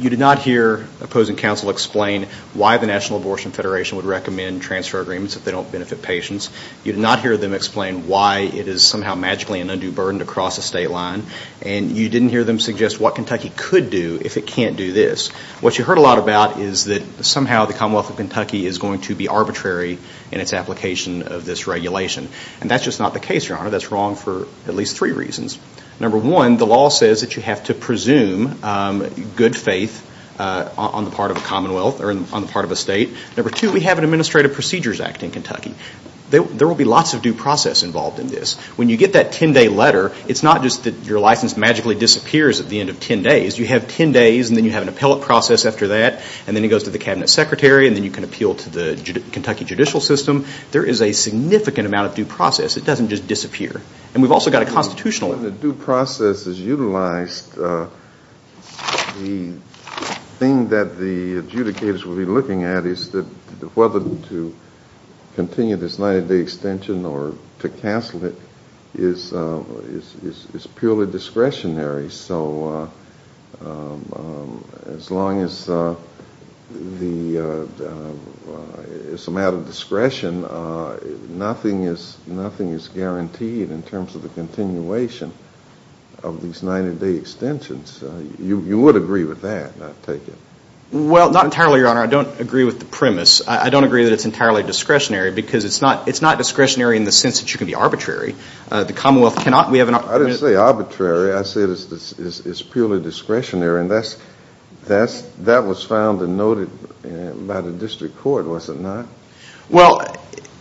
You did not hear opposing counsel explain why the National Abortion Federation would recommend transfer agreements if they don't benefit patients. You did not hear them explain why it is somehow magically an undue burden to cross a state line. And you didn't hear them suggest what Kentucky could do if it can't do this. What you heard a lot about is that somehow the Commonwealth of Kentucky is going to be arbitrary in its application of this regulation. And that's just not the case, Your Honor. That's wrong for at least three reasons. Number one, the law says that you have to presume good faith on the part of a Commonwealth, or on the part of a state. Number two, we have an Administrative Procedures Act in Kentucky. There will be lots of due process involved in this. When you get that 10-day letter, it's not just that your license magically disappears at the end of 10 days. You have 10 days, and then you have an appellate process after that, and then it goes to the Cabinet Secretary, and then you can appeal to the Kentucky judicial system. There is a significant amount of due process. It doesn't just disappear. And we've also got a constitutional... When the due process is utilized, the thing that the adjudicators will be looking at is that whether to continue this 90-day extension or to cancel it is purely discretionary. So, as long as it's a matter of discretion, nothing is guaranteed in terms of the continuation of these 90-day extensions. You would agree with that, I take it? Well, not entirely, Your Honor. I don't agree with the premise. I don't agree that it's entirely discretionary, because it's not discretionary in the sense that you can be arbitrary. The Commonwealth cannot... I didn't say arbitrary. I said it's purely discretionary, and that was found and noted by the district court, was it not? Well,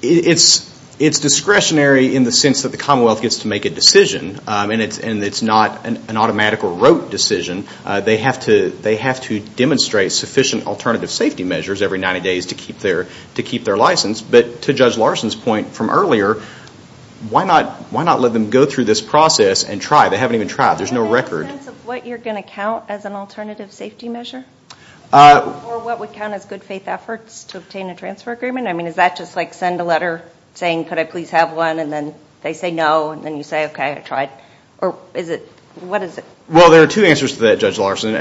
it's discretionary in the sense that the Commonwealth gets to make a decision, and it's not an automatic or rote decision. They have to demonstrate sufficient alternative safety measures every 90 days to keep their license. But to Judge Larson's point from earlier, why not let them go through this process and try? They haven't even tried. There's no record. Do you have a sense of what you're going to count as an alternative safety measure? Or what would count as good faith efforts to obtain a transfer agreement? I mean, is that just like send a letter saying, could I please have one, and then they say no, and then you say, okay, I tried? Or is it... What is it? Well, there are two answers to that, Judge Larson.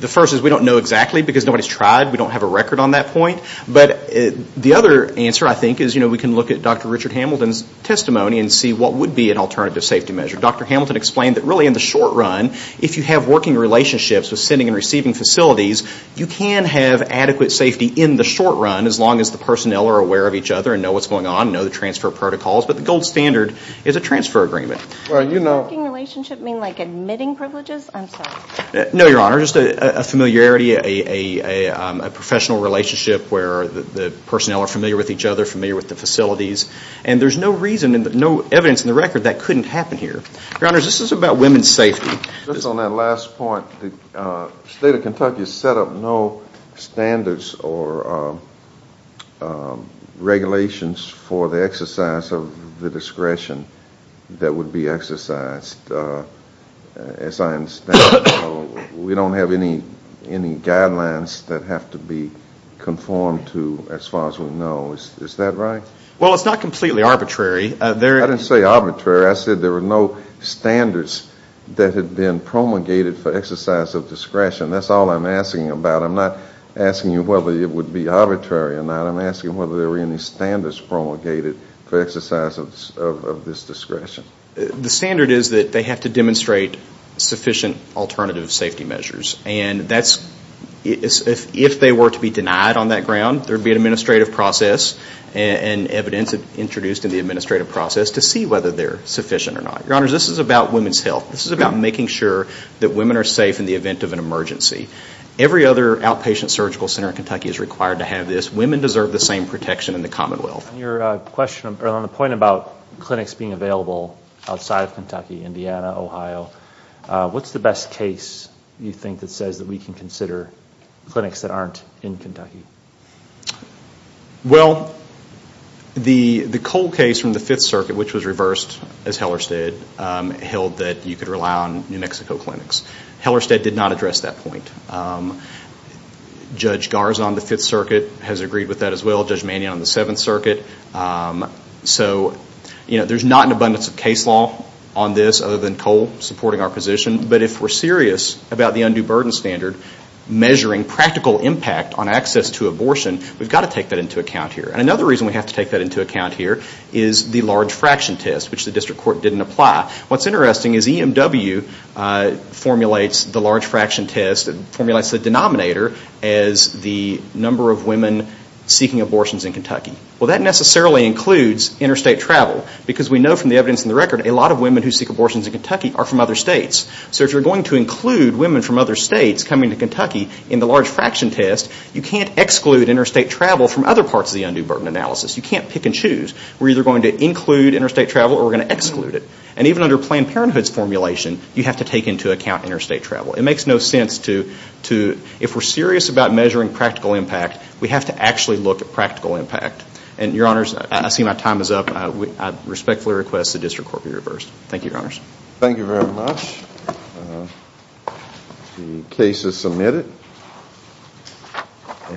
The first is we don't know exactly, because nobody's tried. We don't have a record on that point. But the other answer, I think, is we can look at Dr. Richard Hamilton's testimony and see what would be an alternative safety measure. Dr. Hamilton explained that really in the short run, if you have working relationships with sending and receiving facilities, you can have adequate safety in the short run, as long as the personnel are aware of each other and know what's going on, know the transfer protocols. But the gold standard is a transfer agreement. Does working relationship mean like admitting privileges? I'm sorry. No, Your Honor. Just a familiarity, a professional relationship where the personnel are familiar with each other, familiar with the facilities. And there's no reason and no evidence in the record that couldn't happen here. Your Honor, this is about women's safety. Just on that last point, the state of Kentucky has set up no standards or regulations for the exercise of the discretion that would be exercised, as I understand. We don't have any guidelines that have to be conformed to as far as we know. Is that right? Well, it's not completely arbitrary. I didn't say arbitrary. I said there were no standards that had been promulgated for exercise of discretion. That's all I'm asking about. I'm not asking you whether it would be arbitrary or not. I'm asking whether there were any standards promulgated for exercise of this discretion. The standard is that they have to demonstrate sufficient alternative safety measures. And if they were to be denied on that ground, there would be an administrative process. And evidence introduced in the administrative process to see whether they're sufficient or not. Your Honor, this is about women's health. This is about making sure that women are safe in the event of an emergency. Every other outpatient surgical center in Kentucky is required to have this. Women deserve the same protection in the commonwealth. Your question on the point about clinics being available outside of Kentucky, Indiana, Ohio, what's the best case you think that says that we can consider clinics that aren't in Kentucky? Well, the Cole case from the Fifth Circuit, which was reversed as Hellerstedt, held that you could rely on New Mexico clinics. Hellerstedt did not address that point. Judge Garza on the Fifth Circuit has agreed with that as well. Judge Mannion on the Seventh Circuit. So there's not an abundance of case law on this other than Cole supporting our position. But if we're serious about the undue burden standard, measuring practical impact on access to abortion, we've got to take that into account here. And another reason we have to take that into account here is the large fraction test, which the district court didn't apply. What's interesting is EMW formulates the large fraction test, formulates the denominator as the number of women seeking abortions in Kentucky. Well, that necessarily includes interstate travel. Because we know from the evidence in the record, a lot of women who seek abortions in Kentucky are from other states. So if you're going to include women from other states coming to Kentucky in the large fraction test, you can't exclude interstate travel from other parts of the undue burden analysis. You can't pick and choose. We're either going to include interstate travel or we're going to exclude it. And even under Planned Parenthood's formulation, you have to take into account interstate travel. It makes no sense to, if we're serious about measuring practical impact, we have to actually look at practical impact. And, Your Honors, I see my time is up. I respectfully request the district court be reversed. Thank you, Your Honors. Thank you very much. The case is submitted.